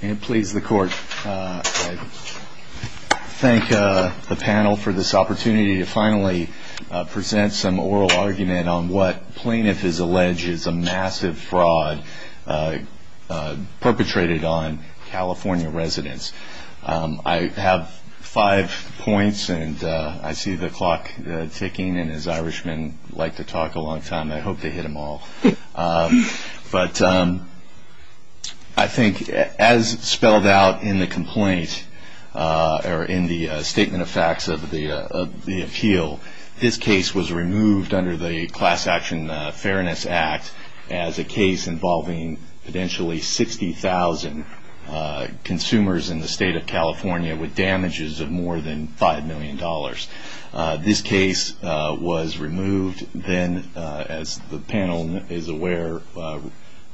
I thank the panel for this opportunity to finally present some oral argument on what Plaintiff has alleged is a massive fraud perpetrated on California residents. I have five points and I see the clock ticking and as Irishmen like to talk a long time I hope they hit them all. I think as spelled out in the statement of facts of the appeal, this case was removed under the Class Action Fairness Act as a case involving potentially 60,000 consumers in the state of California with damages of more than $5 million. This case was removed then as the panel is aware.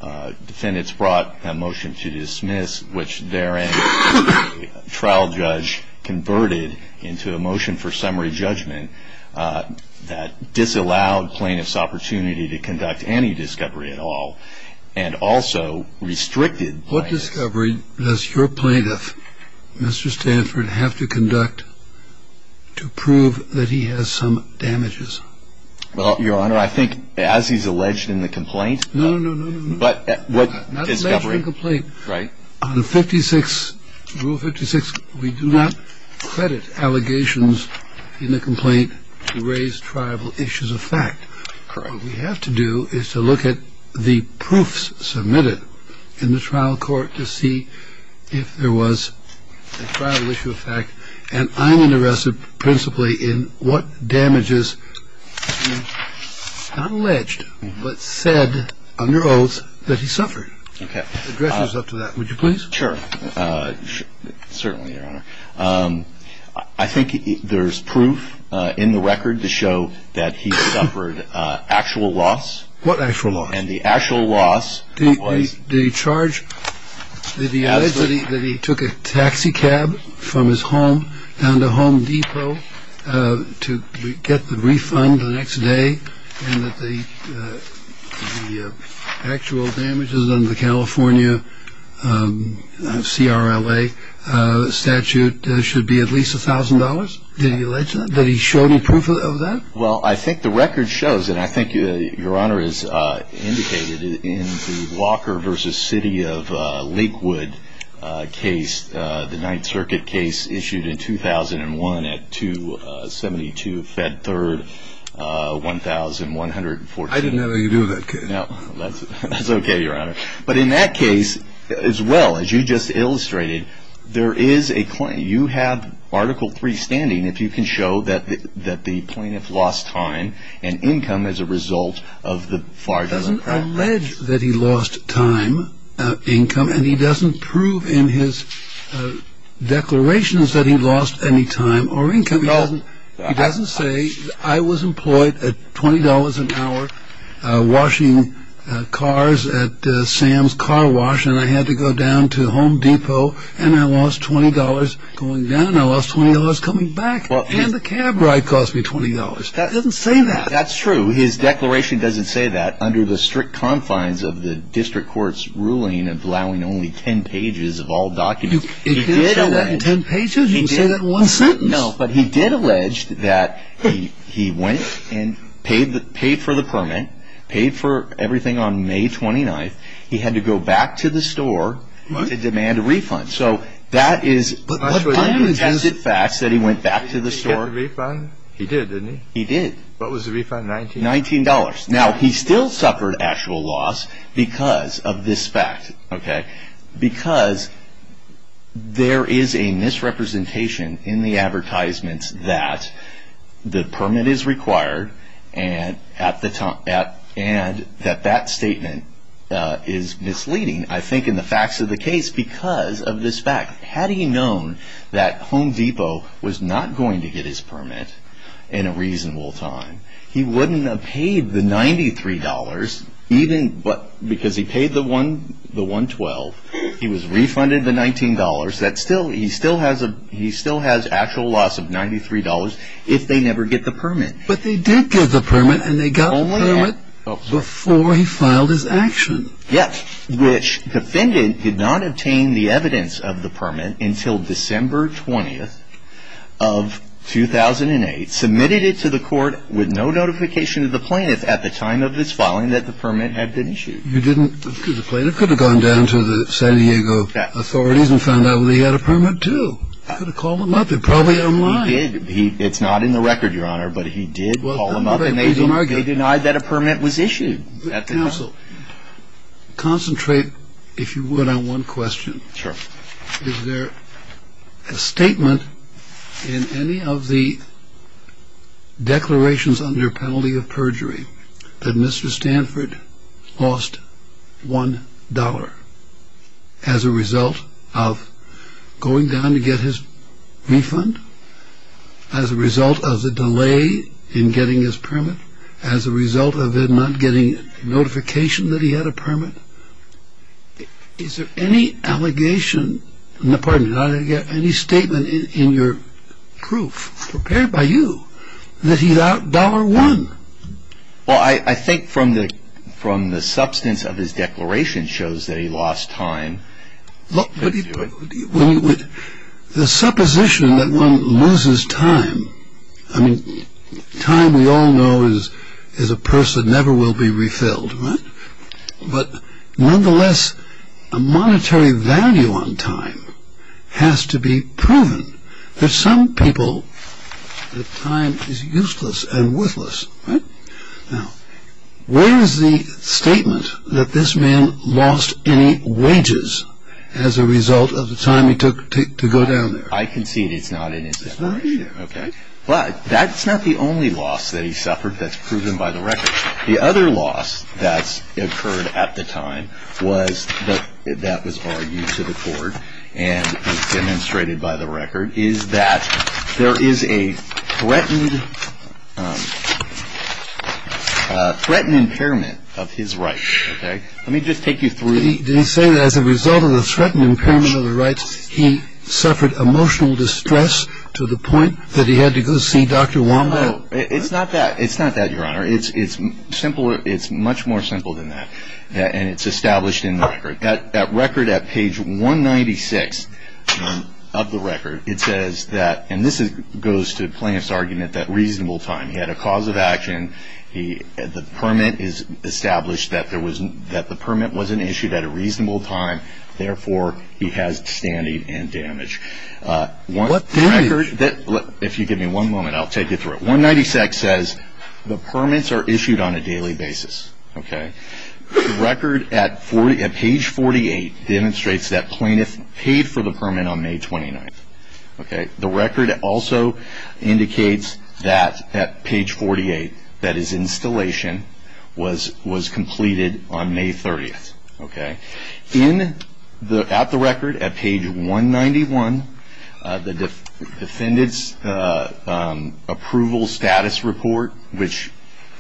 Defendants brought a motion to dismiss which there trial judge converted into a motion for summary judgment that disallowed plaintiff's opportunity to conduct any discovery at all and also restricted. What discovery does your plaintiff, Mr. Stanford, have to conduct to prove that he has some damages? Well, your honor, I think as he's alleged in the complaint. No, no, no, no, no. But what discovery? Not alleged in the complaint. Right. On 56, Rule 56, we do not credit allegations in the complaint to raise tribal issues of fact. Correct. What we have to do is to look at the proofs submitted in the trial court to see if there was a tribal issue of fact. And I'm interested principally in what damages he not alleged but said under oath that he suffered. Okay. The director is up to that. Would you please? Sure. Certainly, your honor. I think there's proof in the record to show that he suffered actual loss. What actual loss? And the actual loss was. Did he charge? Did he allege that he took a taxi cab from his home down to Home Depot to get the refund the next day and that the actual damages under the California CRLA statute should be at least a thousand dollars? Did he allege that? Did he show any proof of that? Well, I think the record shows, and I think your honor is indicated in the Walker versus City of Lakewood case, the Ninth Circuit case issued in 2001 at 272 Fed Third, 1140. I didn't know what you do with that case. No. That's okay, your honor. But in that case, as well as you just illustrated, there is a claim. You have Article 3 standing, if you can show that the plaintiff lost time and income as a result of the fraudulent act. He doesn't allege that he lost time, income, and he doesn't prove in his declarations that he lost any time or income. No. He doesn't say, I was employed at $20 an hour washing cars at Sam's Car Wash, and I had to go down to Home Depot, and I lost $20 going down, and I lost $20 coming back, and the cab ride cost me $20. He doesn't say that. That's true. His declaration doesn't say that. Under the strict confines of the district court's ruling of allowing only 10 pages of all documents, he did allege that he went and paid for the permit, paid for everything on May 29th. He had to go back to the store to demand a refund. So that is a pungent fact that he went back to the store. Did he get the refund? He did, didn't he? He did. What was the refund? $19? $19. Now, he still suffered actual loss because of this fact, because there is a misrepresentation in the advertisements that the permit is required and that that statement is misleading. I think in the facts of the case, because of this fact, had he known that Home Depot was not going to get his permit in a reasonable time, he wouldn't have paid the $93, even because he paid the $112. He was refunded the $19. He still has actual loss of $93 if they never get the permit. But they did get the permit, and they got the permit before he filed his action. Yes. Which defendant did not obtain the evidence of the permit until December 20th of 2008, submitted it to the court with no notification to the plaintiff at the time of his filing that the permit had been issued. You didn't, because the plaintiff could have gone down to the San Diego authorities and found out that he had a permit, too. He could have called them up. They're probably online. He did. It's not in the record, Your Honor, but he did call them up, and they denied that a permit was issued. Counsel, concentrate, if you would, on one question. Sure. Is there a statement in any of the declarations under penalty of perjury that Mr. Stanford lost $1 as a result of going down to get his refund, as a result of the delay in getting his permit, as a result of him not getting notification that he had a permit? Is there any allegation, pardon me, any statement in your proof prepared by you that he lost $1? Well, I think from the substance of his declaration shows that he lost time. The supposition that one loses time, I mean, time we all know is a purse that never will be refilled, right? But nonetheless, a monetary value on time has to be proven. There's some people that time is useless and worthless, right? Now, where is the statement that this man lost any wages as a result of the time he took to go down there? I concede it's not in his declaration. It's not either. Okay? But that's not the only loss that he suffered that's proven by the record. The other loss that's occurred at the time was, that was argued to the court and demonstrated by the record, is that there is a threatened impairment of his rights. Okay? Let me just take you through. Did he say that as a result of the threatened impairment of the rights, he suffered emotional distress to the point that he had to go see Dr. Wambaugh? No. It's not that, Your Honor. It's simpler, it's much more simple than that. And it's of the record. It says that, and this goes to Plaintiff's argument that reasonable time. He had a cause of action. The permit is established that the permit wasn't issued at a reasonable time. Therefore, he has standing and damage. What damage? If you give me one moment, I'll take you through it. 196 says the permits are issued on a daily Okay? The record also indicates that at page 48, that his installation was completed on May 30th. Okay? In the, at the record at page 191, the defendant's approval status report, which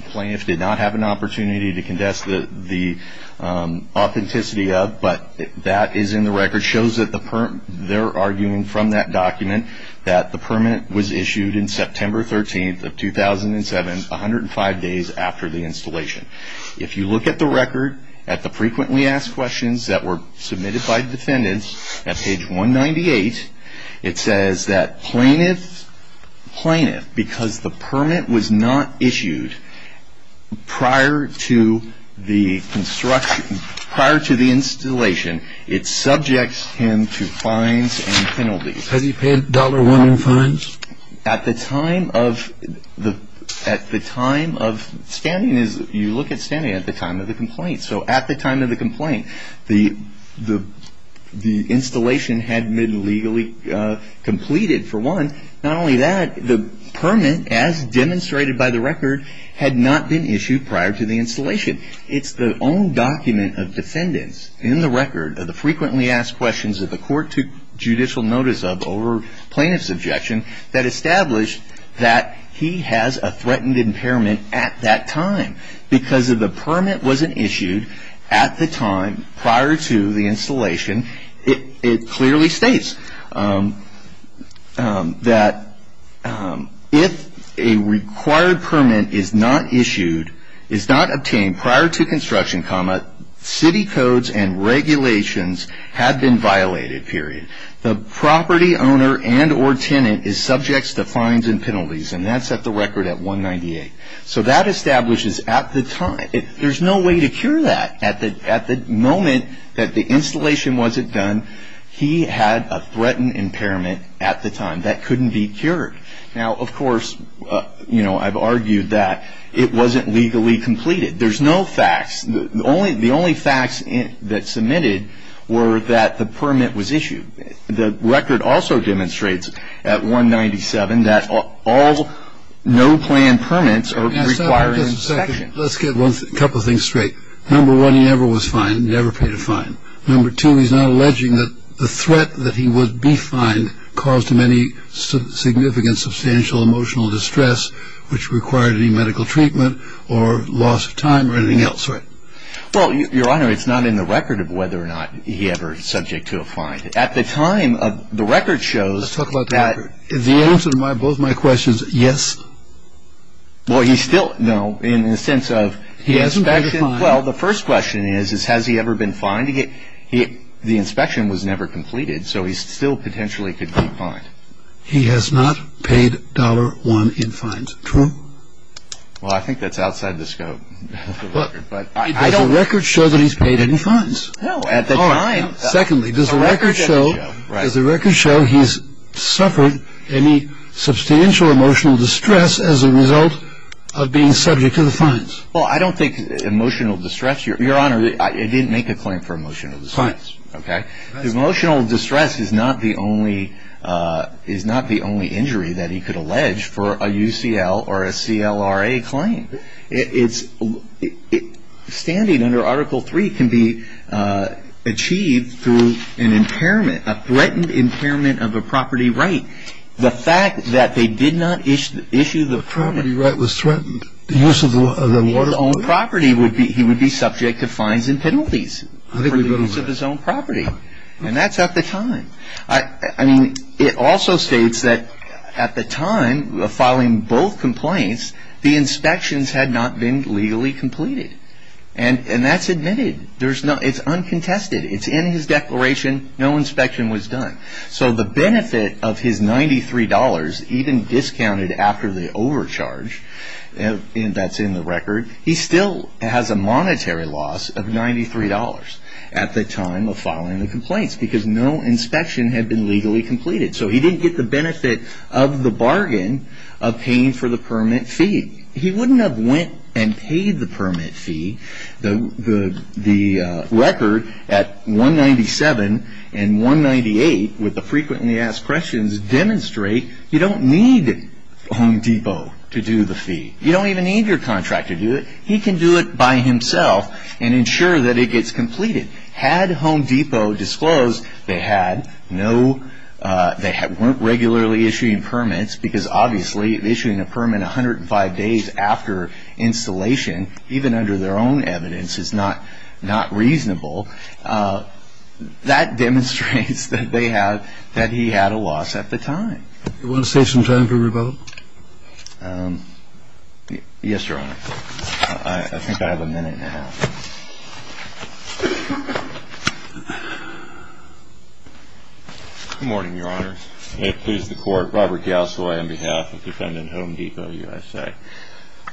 Plaintiff did not have an opportunity to condess the authenticity of, but that is in the record, shows that the permit, they're arguing from that document that the permit was issued in September 13th of 2007, 105 days after the installation. If you look at the record, at the frequently asked questions that were submitted by defendants at page 198, it says that Plaintiff, Plaintiff, because the permit was not issued prior to the construction, prior to the installation, it subjects him to fines and penalties. Has he paid dollar one in fines? At the time of the, at the time of standing is you look at standing at the time of the complaint. So at the time of the complaint, the, the, the installation had been legally completed for one. Not only that, the permit as demonstrated by the record had not been issued prior to the installation. It's the own document of defendants in the record of the frequently asked questions that the court took judicial notice of over plaintiff's objection that established that he has a threatened impairment at that time because of the permit wasn't issued at the time prior to the installation. It clearly states that if a required permit is not issued, is not obtained prior to construction, city codes and regulations have been violated, period. The property owner and or tenant is subject to fines and penalties and that's at the record at 198. So that establishes at the time, there's no way to cure that at the, at the moment that the installation wasn't done, he had a threatened impairment at the time that couldn't be cured. Now, of course, you know, I've argued that it wasn't legally completed. There's no facts. The only, the only facts that submitted were that the permit was issued. The record also demonstrates at 197 that all, all no plan permits are required. Let's get a couple of things straight. Number one, he never was fined, never paid a fine. Number two, he's not alleging that the threat that he would be fined caused him any significant, substantial emotional distress, which required any medical treatment or loss of time or anything else, right? Well, your honor, it's not in the record of whether or not he ever is subject to a fine. At the time of the record shows that the answer to my, both my questions. Yes. Well, he's still no, in the sense of, well, the first question is, has he ever been fined to get hit? The inspection was never completed, so he's still potentially could be fined. He has not paid dollar one in fines. True. Well, I think that's outside the scope of the record, but I don't record show that he's paid any fines at the time. Secondly, does the record show as a record show he's suffered any substantial emotional distress as a result of being subject to the fines? Well, I don't think emotional distress, your honor, I didn't make a claim for emotional distress. Fine. Okay. Emotional distress is not the only, is not the only injury that he could allege for a UCL or a CLRA claim. It's standing under article three can be achieved through an impairment, a threatened impairment of a property right. The fact that they did not issue the property right was threatened. The use of the water. Own property would be, he would be subject to fines and penalties for the use of his own property. And that's at the time. I mean, it also states that at the time filing both complaints, the inspections had not been legally completed and that's admitted. There's no, it's uncontested. It's in his declaration. No inspection was done. So the that's in the record. He still has a monetary loss of $93 at the time of filing the complaints because no inspection had been legally completed. So he didn't get the benefit of the bargain of paying for the permit fee. He wouldn't have went and paid the permit fee. The record at 197 and 198 with the frequently asked questions demonstrate you don't need Home Depot to do the fee. You don't even need your contractor to do it. He can do it by himself and ensure that it gets completed. Had Home Depot disclosed they had no, they weren't regularly issuing permits because obviously issuing a permit 105 days after installation, even under their own evidence is not reasonable. That demonstrates that they have, that he had a loss at the time. You want to save some time for rebuttal? Yes, Your Honor. I think I have a minute now. Good morning, Your Honor. May it please the Court. Robert Galsoy on behalf of Defendant Home Depot USA.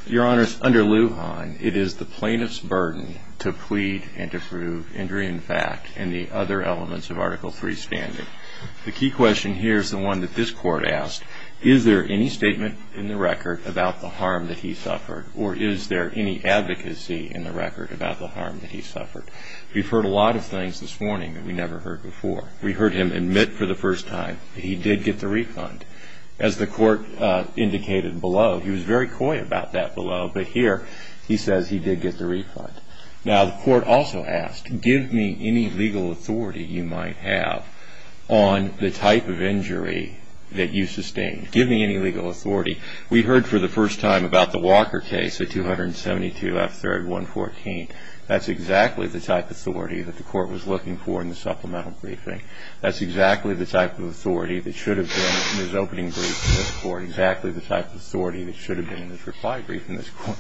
Your Honor, under Lujan, it is the plaintiff's burden to plead and to prove injury in fact in other elements of Article III standing. The key question here is the one that this Court asked. Is there any statement in the record about the harm that he suffered or is there any advocacy in the record about the harm that he suffered? We've heard a lot of things this morning that we never heard before. We heard him admit for the first time that he did get the refund. As the Court indicated below, he was very coy about that below, but here he says he did get the refund. Now, the Court also asked, give me any legal authority you might have on the type of injury that you sustained. Give me any legal authority. We heard for the first time about the Walker case, at 272 F. 3rd, 114th. That's exactly the type of authority that the Court was looking for in the supplemental briefing. That's exactly the type of authority that should have been in his opening brief in this Court. Exactly the type of authority that should have been in his reply brief in this Court.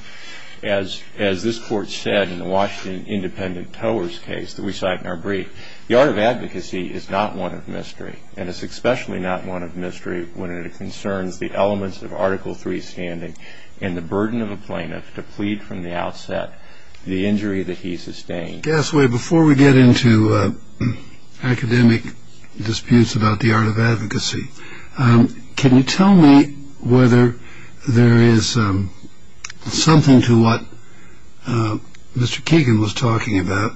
As the Court said in the Washington Independent Towers case that we cite in our brief, the art of advocacy is not one of mystery, and it's especially not one of mystery when it concerns the elements of Article III standing and the burden of a plaintiff to plead from the outset the injury that he sustained. Gasway, before we get into academic disputes about the art of advocacy, can you tell me whether there is something to what Mr. Keegan was talking about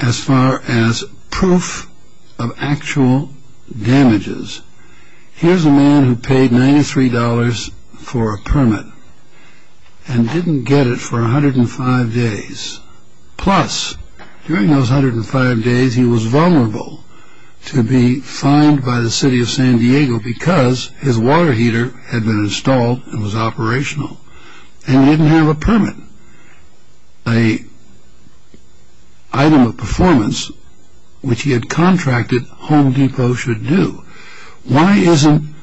as far as proof of actual damages? Here's a man who paid $93 for a permit and didn't get it for 105 days. Plus, during those 105 days, he was vulnerable to be fined by the City of San Diego because his water heater had been installed and was operational, and he didn't have a permit, an item of performance which he had contracted Home Depot should do. Why isn't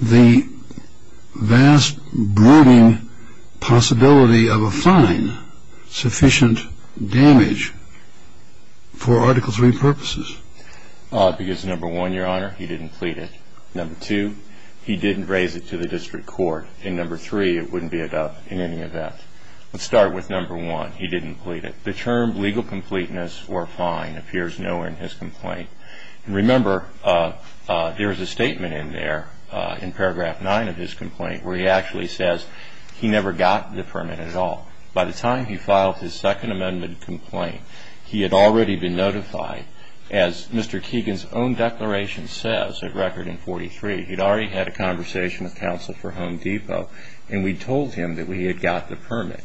the vast brooding possibility of a fine sufficient damage for Article III purposes? Because number one, Your Honor, he didn't plead it. Number two, he didn't raise it to the District Court. And number three, it wouldn't be enough in any event. Let's start with number one. He didn't plead it. The term legal completeness or fine appears nowhere in his complaint. And remember, there is a statement in there in paragraph 9 of his complaint where he actually says he never got the permit at all. By the time he filed his Second Amendment complaint, he had already been notified, as Mr. Keegan's own declaration says, a record in 43. He'd already had a conversation with counsel for Home Depot, and we told him that we had got the permit.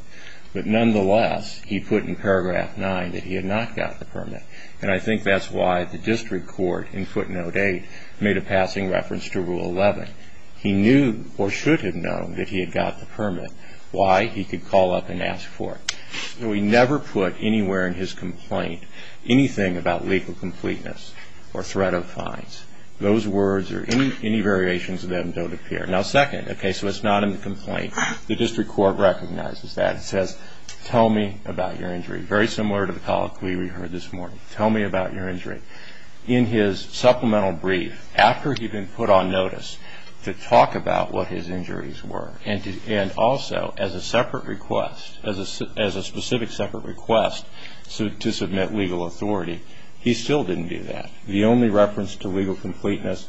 But nonetheless, he put in paragraph 9 that he had not got the permit. And I think that's why the District Court in footnote 8 made a passing reference to rule 11. He knew or should have known that he had got the permit. Why? He could call up and ask for it. So he never put anywhere in his complaint anything about legal completeness or threat of fines. Those words or any variations of them don't appear. Now second, okay, so it's not in the complaint. The District Court recognizes that. It says tell me about your injury. Very similar to the colloquy we heard this morning. Tell me about your injury. In his supplemental brief, after he'd been put on notice to talk about what his injuries were and also as a separate request, as a specific separate request to submit legal authority, he still didn't do that. The only reference to legal completeness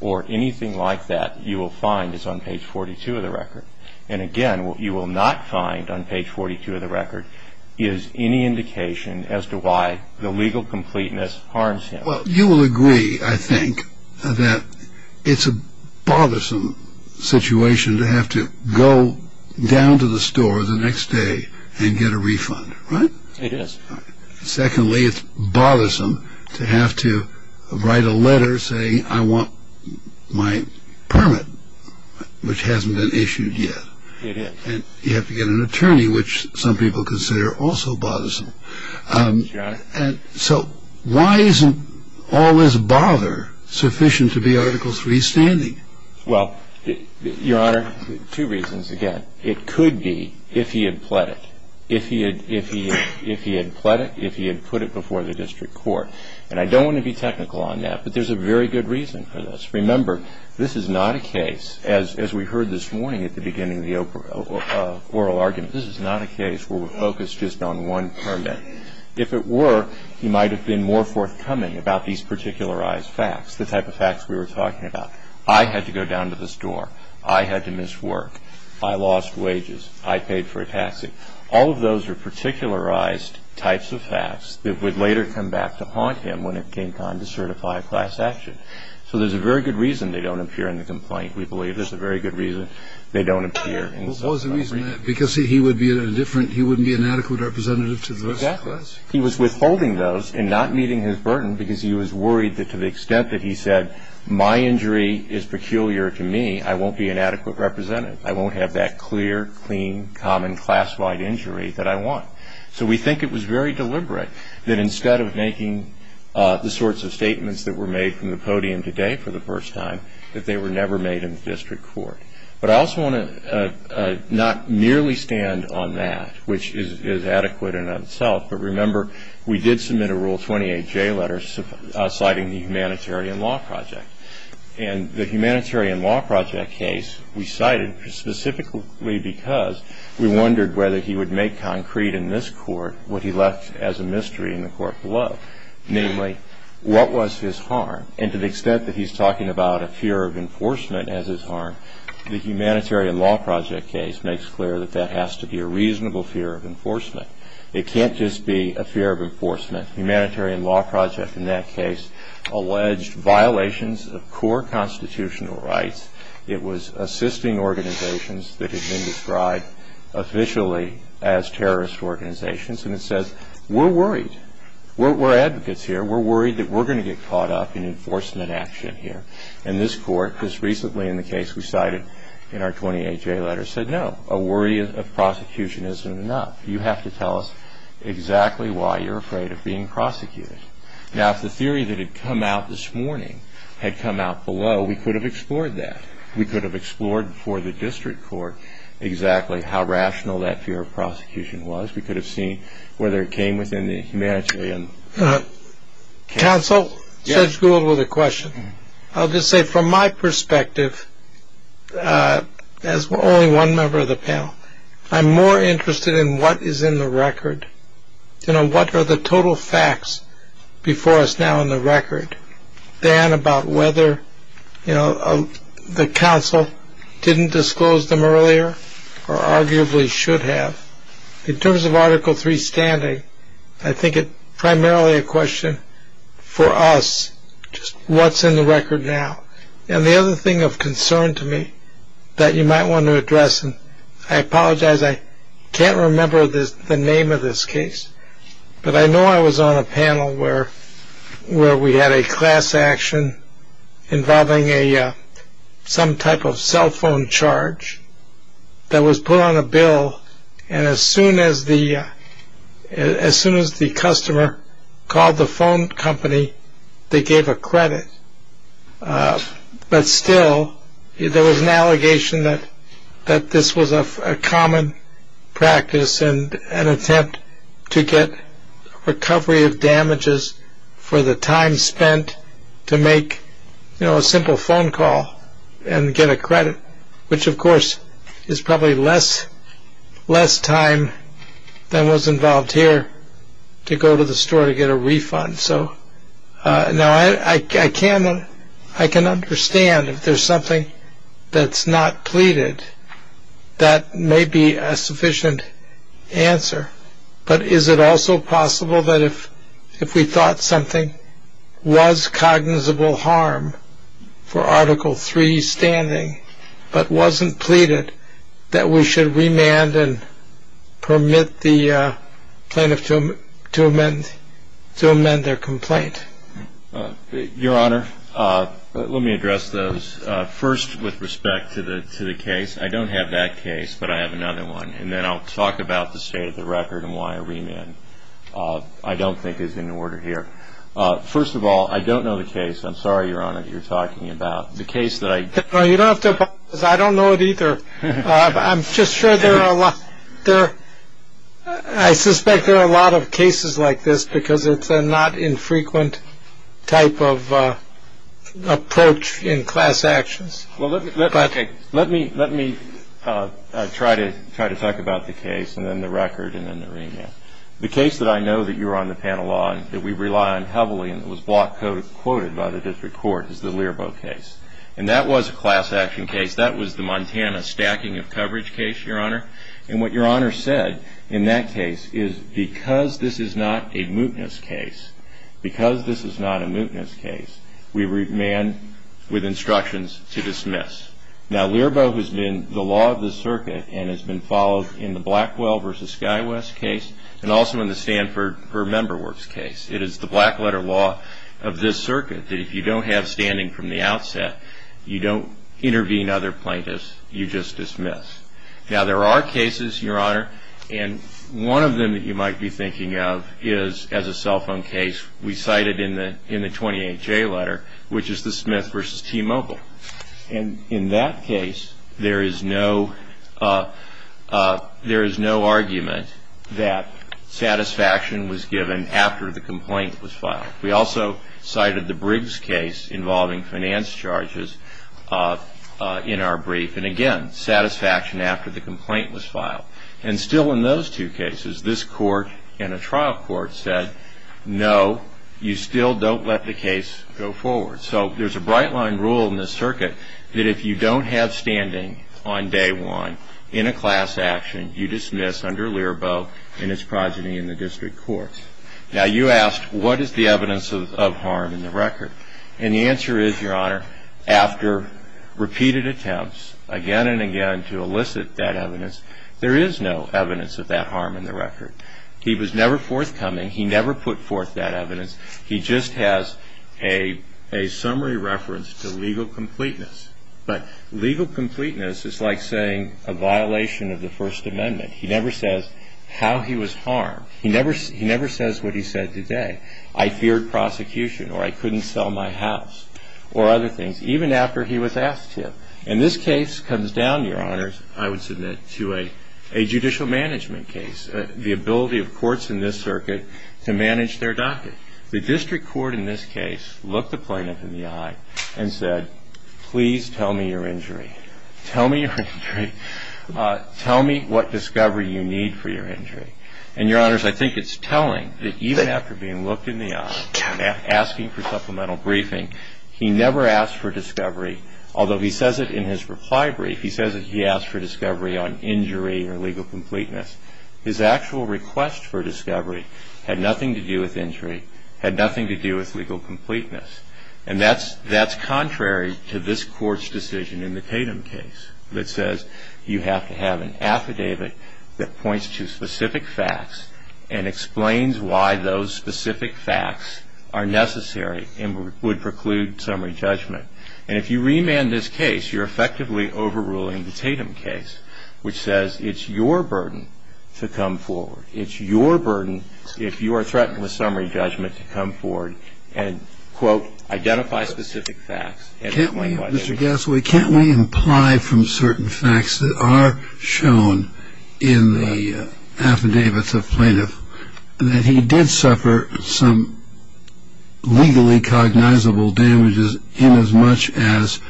or anything like that you will find is on page 42 of the record. And again, what you will not find on page 42 of the record is any indication as to the legal completeness harms him. Well, you will agree, I think, that it's a bothersome situation to have to go down to the store the next day and get a refund, right? It is. Secondly, it's bothersome to have to write a letter saying I want my permit, which hasn't been issued yet. It is. And you have to get an attorney, which some people consider also bothersome. So why isn't all this bother sufficient to be Article 3 standing? Well, Your Honor, two reasons. Again, it could be if he had pled it. If he had pled it, if he had put it before the District Court. And I don't want to be technical on that, but there's a very good reason for this. Remember, this is not a case, as we heard this morning at the beginning of the hearing, where he was charged with a particularized fact. And it's not just on one permit. If it were, he might have been more forthcoming about these particularized facts, the type of facts we were talking about. I had to go down to the store. I had to miss work. I lost wages. I paid for a taxi. All of those are particularized types of facts that would later come back to haunt him when it came time to certify class action. So there's a very good reason they don't appear in the complaint. We believe there's a very good reason they don't appear in the complaint. What was the reason there? Because he would be a different – he wouldn't be an adequate representative to the rest of the class. Exactly. He was withholding those and not meeting his burden because he was worried that to the extent that he said, my injury is peculiar to me, I won't be an adequate representative. I won't have that clear, clean, common, class-wide injury that I want. So we think it was very deliberate that instead of making the sorts of statements that were made from the podium today for the first time, that they were never made in the district court. But I also want to not merely stand on that, which is adequate in and of itself. But remember, we did submit a Rule 28J letter citing the humanitarian law project. And the humanitarian law project case we cited specifically because we wondered whether he would make concrete in this court what he left as a mystery in the court below. Namely, what was his harm? And to the extent that he's talking about a fear of enforcement as his harm, the humanitarian law project case makes clear that that has to be a reasonable fear of enforcement. It can't just be a fear of enforcement. The humanitarian law project in that case alleged violations of core constitutional rights. It was assisting organizations that had been described officially as terrorist organizations. And it says, we're worried. We're advocates here. We're worried that we're going to get caught up in enforcement action here. And this court, just recently in the case we cited in our 28J letter, said, no, a worry of prosecution isn't enough. You have to tell us exactly why you're afraid of being prosecuted. Now, if the theory that had come out this morning had come out below, we could have explored that. We could have explored for the district court exactly how rational that fear of prosecution was. We could have seen whether it came within the humanitarian case. Counsel, Judge Gould with a question. I'll just say, from my perspective, as only one member of the panel, I'm more interested in what is in the record. You know, what are the total facts before us now in the record than about whether, you know, the counsel didn't disclose them earlier or arguably should have. In terms of Article 3 standing, I think it's primarily a question for us, just what's in the record now. And the other thing of concern to me that you might want to address, and I apologize, I can't remember the name of this case, but I know I was on a panel where we had a class action involving some type of cell phone charge that was put on a bill. And as soon as the customer called the phone company, they gave a credit. But still, there was an allegation that this was a common practice and an attempt to get recovery of damages for the time spent to make a simple phone call and get a credit, which, of course, is probably less time than was involved here to go to the store to get a refund. Now, I can understand if there's something that's not pleaded, that may be a sufficient answer. But is it also possible that if we thought something was cognizable harm for Article 3 standing, but wasn't pleaded, that we should remand and permit the plaintiff to amend their complaint? Your Honor, let me address those. First, with respect to the case, I don't have that case, but I have another one. And then I'll talk about the state of the record and why a remand, I don't think, is in order here. First of all, I don't know the case. I'm sorry, Your Honor, that you're talking about. The case that I... Well, you don't have to apologize. I don't know it either. I'm just sure there are a lot of cases like this because it's a not infrequent type of approach in class actions. Let me try to talk about the case, and then the record, and then the remand. The case that I know that you're on the panel on, that we rely on heavily, and it was block quoted by the district court, is the Learbo case. And that was a class action case. That was the Montana stacking of coverage case, Your Honor. And what Your Honor said in that case is because this is not a mootness case, because this is not a mootness case, we remand with instructions to dismiss. Now, Learbo has been the law of the circuit and has been followed in the Blackwell versus SkyWest case and also in the Stanford per member works case. It is the black letter law of this circuit that if you don't have standing from the outset, you don't intervene other plaintiffs, you just dismiss. Now, there are cases, Your Honor, and one of them that you might be thinking of is as a cell phone case, we cited in the 28-J letter, which is the Smith versus T-Mobile. And in that case, there is no argument that satisfaction was given after the complaint was filed. We also cited the Briggs case involving finance charges in our brief. And again, satisfaction after the complaint was filed. And still in those two cases, this court and a trial court said, no, you still don't let the case go forward. So there is a bright line rule in this circuit that if you don't have standing on day one in a class action, you dismiss under Learbo and its progeny in the district courts. Now, you asked, what is the evidence of harm in the record? And the answer is, Your Honor, after repeated attempts again and again to elicit that evidence, there is no evidence of that harm in the record. He was never forthcoming. He never put forth that evidence. He just has a summary reference to legal completeness. But legal completeness is like saying a violation of the First Amendment. He never says how he was harmed. He never says what he said today. I feared prosecution, or I couldn't sell my house, or other things, even after he was asked to. And this case comes down, Your Honors, I would submit to a judicial management case, the ability of courts in this circuit to manage their docket. The district court in this case looked the plaintiff in the eye and said, please tell me your injury. Tell me your injury. Tell me what discovery you need for your injury. And, Your Honors, I think it's telling that even after being looked in the eye and asking for supplemental briefing, he never asked for discovery, although he says it in his reply brief. He says that he asked for discovery on injury or legal completeness. His actual request for discovery had nothing to do with injury, had nothing to do with legal completeness. And that's contrary to this Court's decision in the Tatum case that says you have to have an affidavit that points to specific facts and explains why those specific facts are necessary and would preclude summary judgment. And if you remand this case, you're effectively overruling the Tatum case, which says it's your burden to come forward. It's your burden, if you are threatened with summary judgment, to come forward and, quote, identify specific facts. Can't we, Mr. Gassoy, can't we imply from certain facts that are shown in the affidavits of plaintiff that he did suffer some legally cognizable damages inasmuch as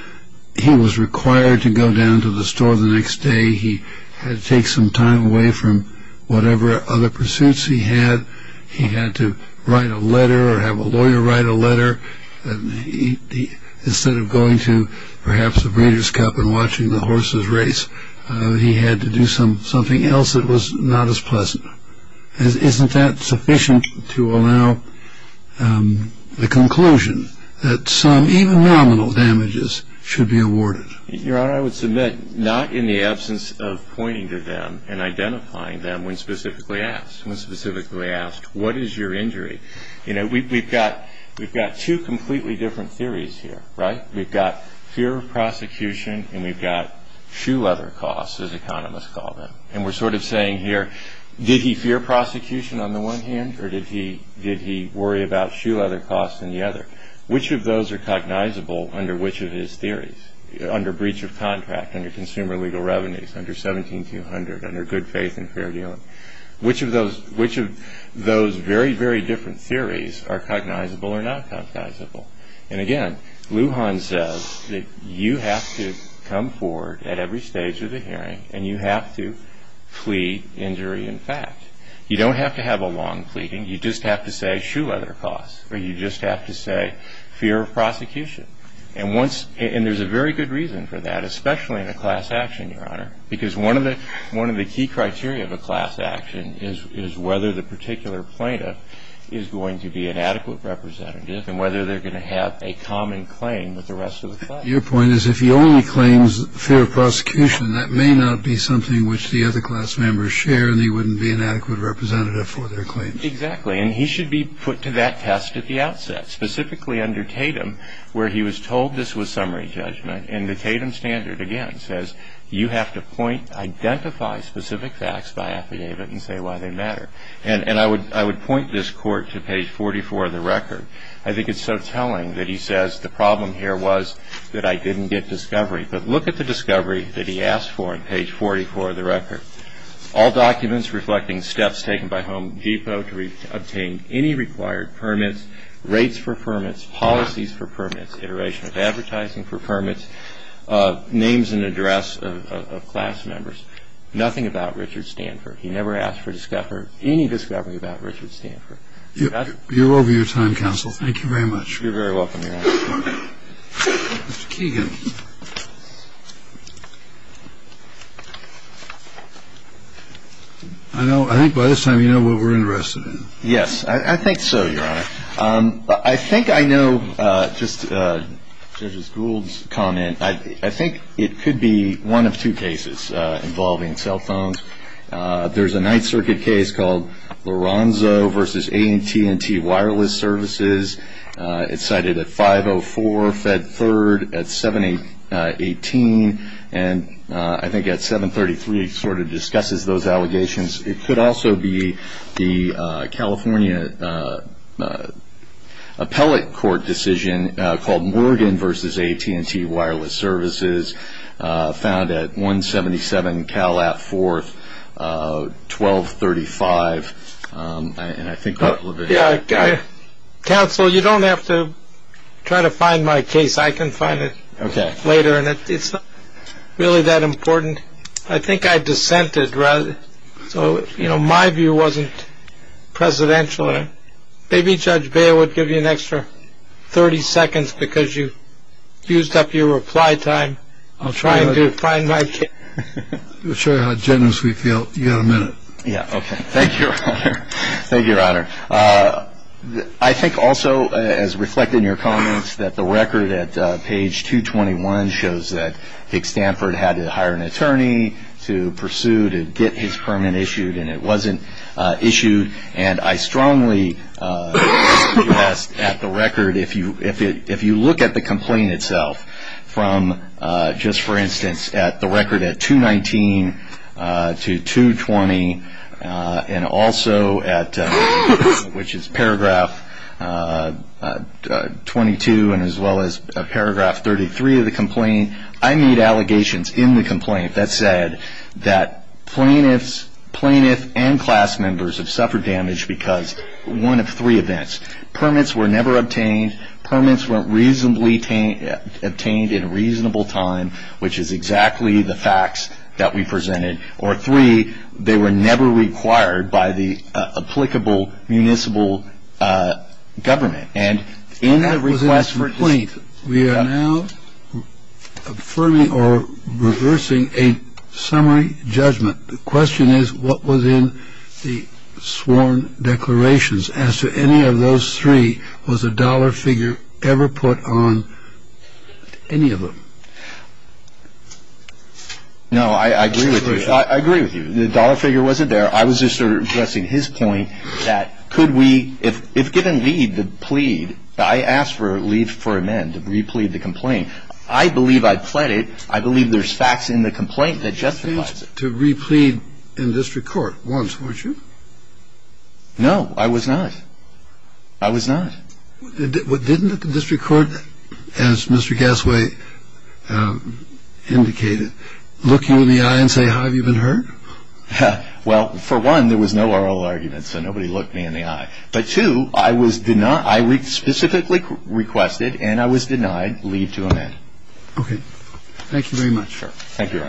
he was required to go down to the store the next day, he had to take some time away from whatever other of going to perhaps the Breeders' Cup and watching the horses race. He had to do something else that was not as pleasant. Isn't that sufficient to allow the conclusion that some even nominal damages should be awarded? Your Honor, I would submit not in the absence of pointing to them and identifying them when specifically asked. When specifically asked, what is your injury? You know, we've got two completely different theories here, right? We've got fear of prosecution and we've got shoe leather costs, as economists call them. And we're sort of saying here, did he fear prosecution on the one hand or did he worry about shoe leather costs on the other? Which of those are cognizable under which of his theories? Under breach of contract, under consumer legal revenues, under 17200, under good faith and fair dealing. Which of those very, very different theories are cognizable or not cognizable? And again, Lujan says that you have to come forward at every stage of the hearing and you have to plead injury in fact. You don't have to have a long pleading, you just have to say shoe leather costs or you just have to say fear of prosecution. And there's a very good reason for that, especially in a class action, Your Honor, because one of the key criteria of a class action is whether the particular plaintiff is going to be an adequate representative and whether they're going to have a common claim with the rest of the class. Your point is if he only claims fear of prosecution, that may not be something which the other class members share and he wouldn't be an adequate representative for their claims. Exactly. And he should be put to that test at the outset, specifically under Tatum, where he was told this was summary judgment. And the Tatum standard, again, says you have to point, identify specific facts by affidavit and say why they matter. And I would point this Court to page 44 of the record. I think it's so telling that he says the problem here was that I didn't get discovery. But look at the discovery that he asked for on page 44 of the record. All documents reflecting steps taken by Home Depot to obtain any required permits, rates for permits, policies for permits, iteration of advertising for permits, names and address of class members, nothing about Richard Stanford. He never asked for discovery, any discovery about Richard Stanford. You're over your time, counsel. Thank you very much. You're very welcome, Your Honor. Mr. Keegan. I think by this time you know what we're interested in. Yes. I think so, Your Honor. I think I know just Judge Gould's comment. I think it could be one of two cases involving cell phones. There's a Ninth Circuit case called Lorenzo v. AT&T Wireless Services. It's cited at 504 Fed 3rd at 718 and I think at 733 sort of discusses those allegations. It could also be the California Appellate Court decision called Morgan v. AT&T Wireless Services found at 177 Cal App 4th, 1235 and I think a couple of it. Yeah. Counsel, you don't have to try to find my case. I can find it later. And it's really that important. I think I dissented. So, you know, my view wasn't presidential. Maybe Judge Baer would give you an extra 30 seconds because you fused up your reply time. I'm trying to find my case. I'll show you how generous we feel. You got a minute. Yeah. Okay. Thank you, Your Honor. Thank you, Your Honor. I think also as reflected in your comments that the record at page 221 shows that Dick Stanford had to hire an attorney to pursue to get his permit issued and it wasn't issued. And I strongly suggest at the record if you look at the complaint itself from just for instance at the record at 219 to 220 and also at which is paragraph 22 and as well as paragraph 33 of the complaint, I made allegations in the complaint that said that plaintiffs, plaintiff and class members have suffered damage because one of three events. Permits were never obtained. Permits weren't reasonably obtained in a reasonable time, which is exactly the facts that we presented. Or three, they were never required by the applicable municipal government. And in the request for complaint, we are now affirming or reversing a summary judgment. The question is what was in the sworn declarations as to any of those three was a dollar figure ever put on any of them. No, I agree with you. I agree with you. The dollar figure wasn't there. I was just addressing his point that could we, if given leave to plead, I asked for leave for amend to re-plead the complaint. I believe I pled it. I believe there's facts in the complaint that justifies it. You pleaded to re-plead in district court once, weren't you? No, I was not. I was not. Didn't the district court, as Mr. Gassway indicated, look you in the eye and say, have you been hurt? Well, for one, there was no oral argument, so nobody looked me in the eye. But two, I was denied, I specifically requested and I was denied leave to amend. Okay. Thank you very much. Thank you, Your Honor.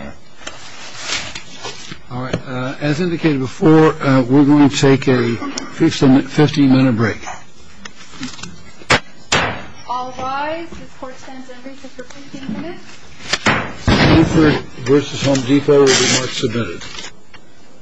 All right. As indicated before, we're going to take a 15-minute break. All rise. The court stands in recess for 15 minutes. Bluford v. Home Depot. Remarks submitted.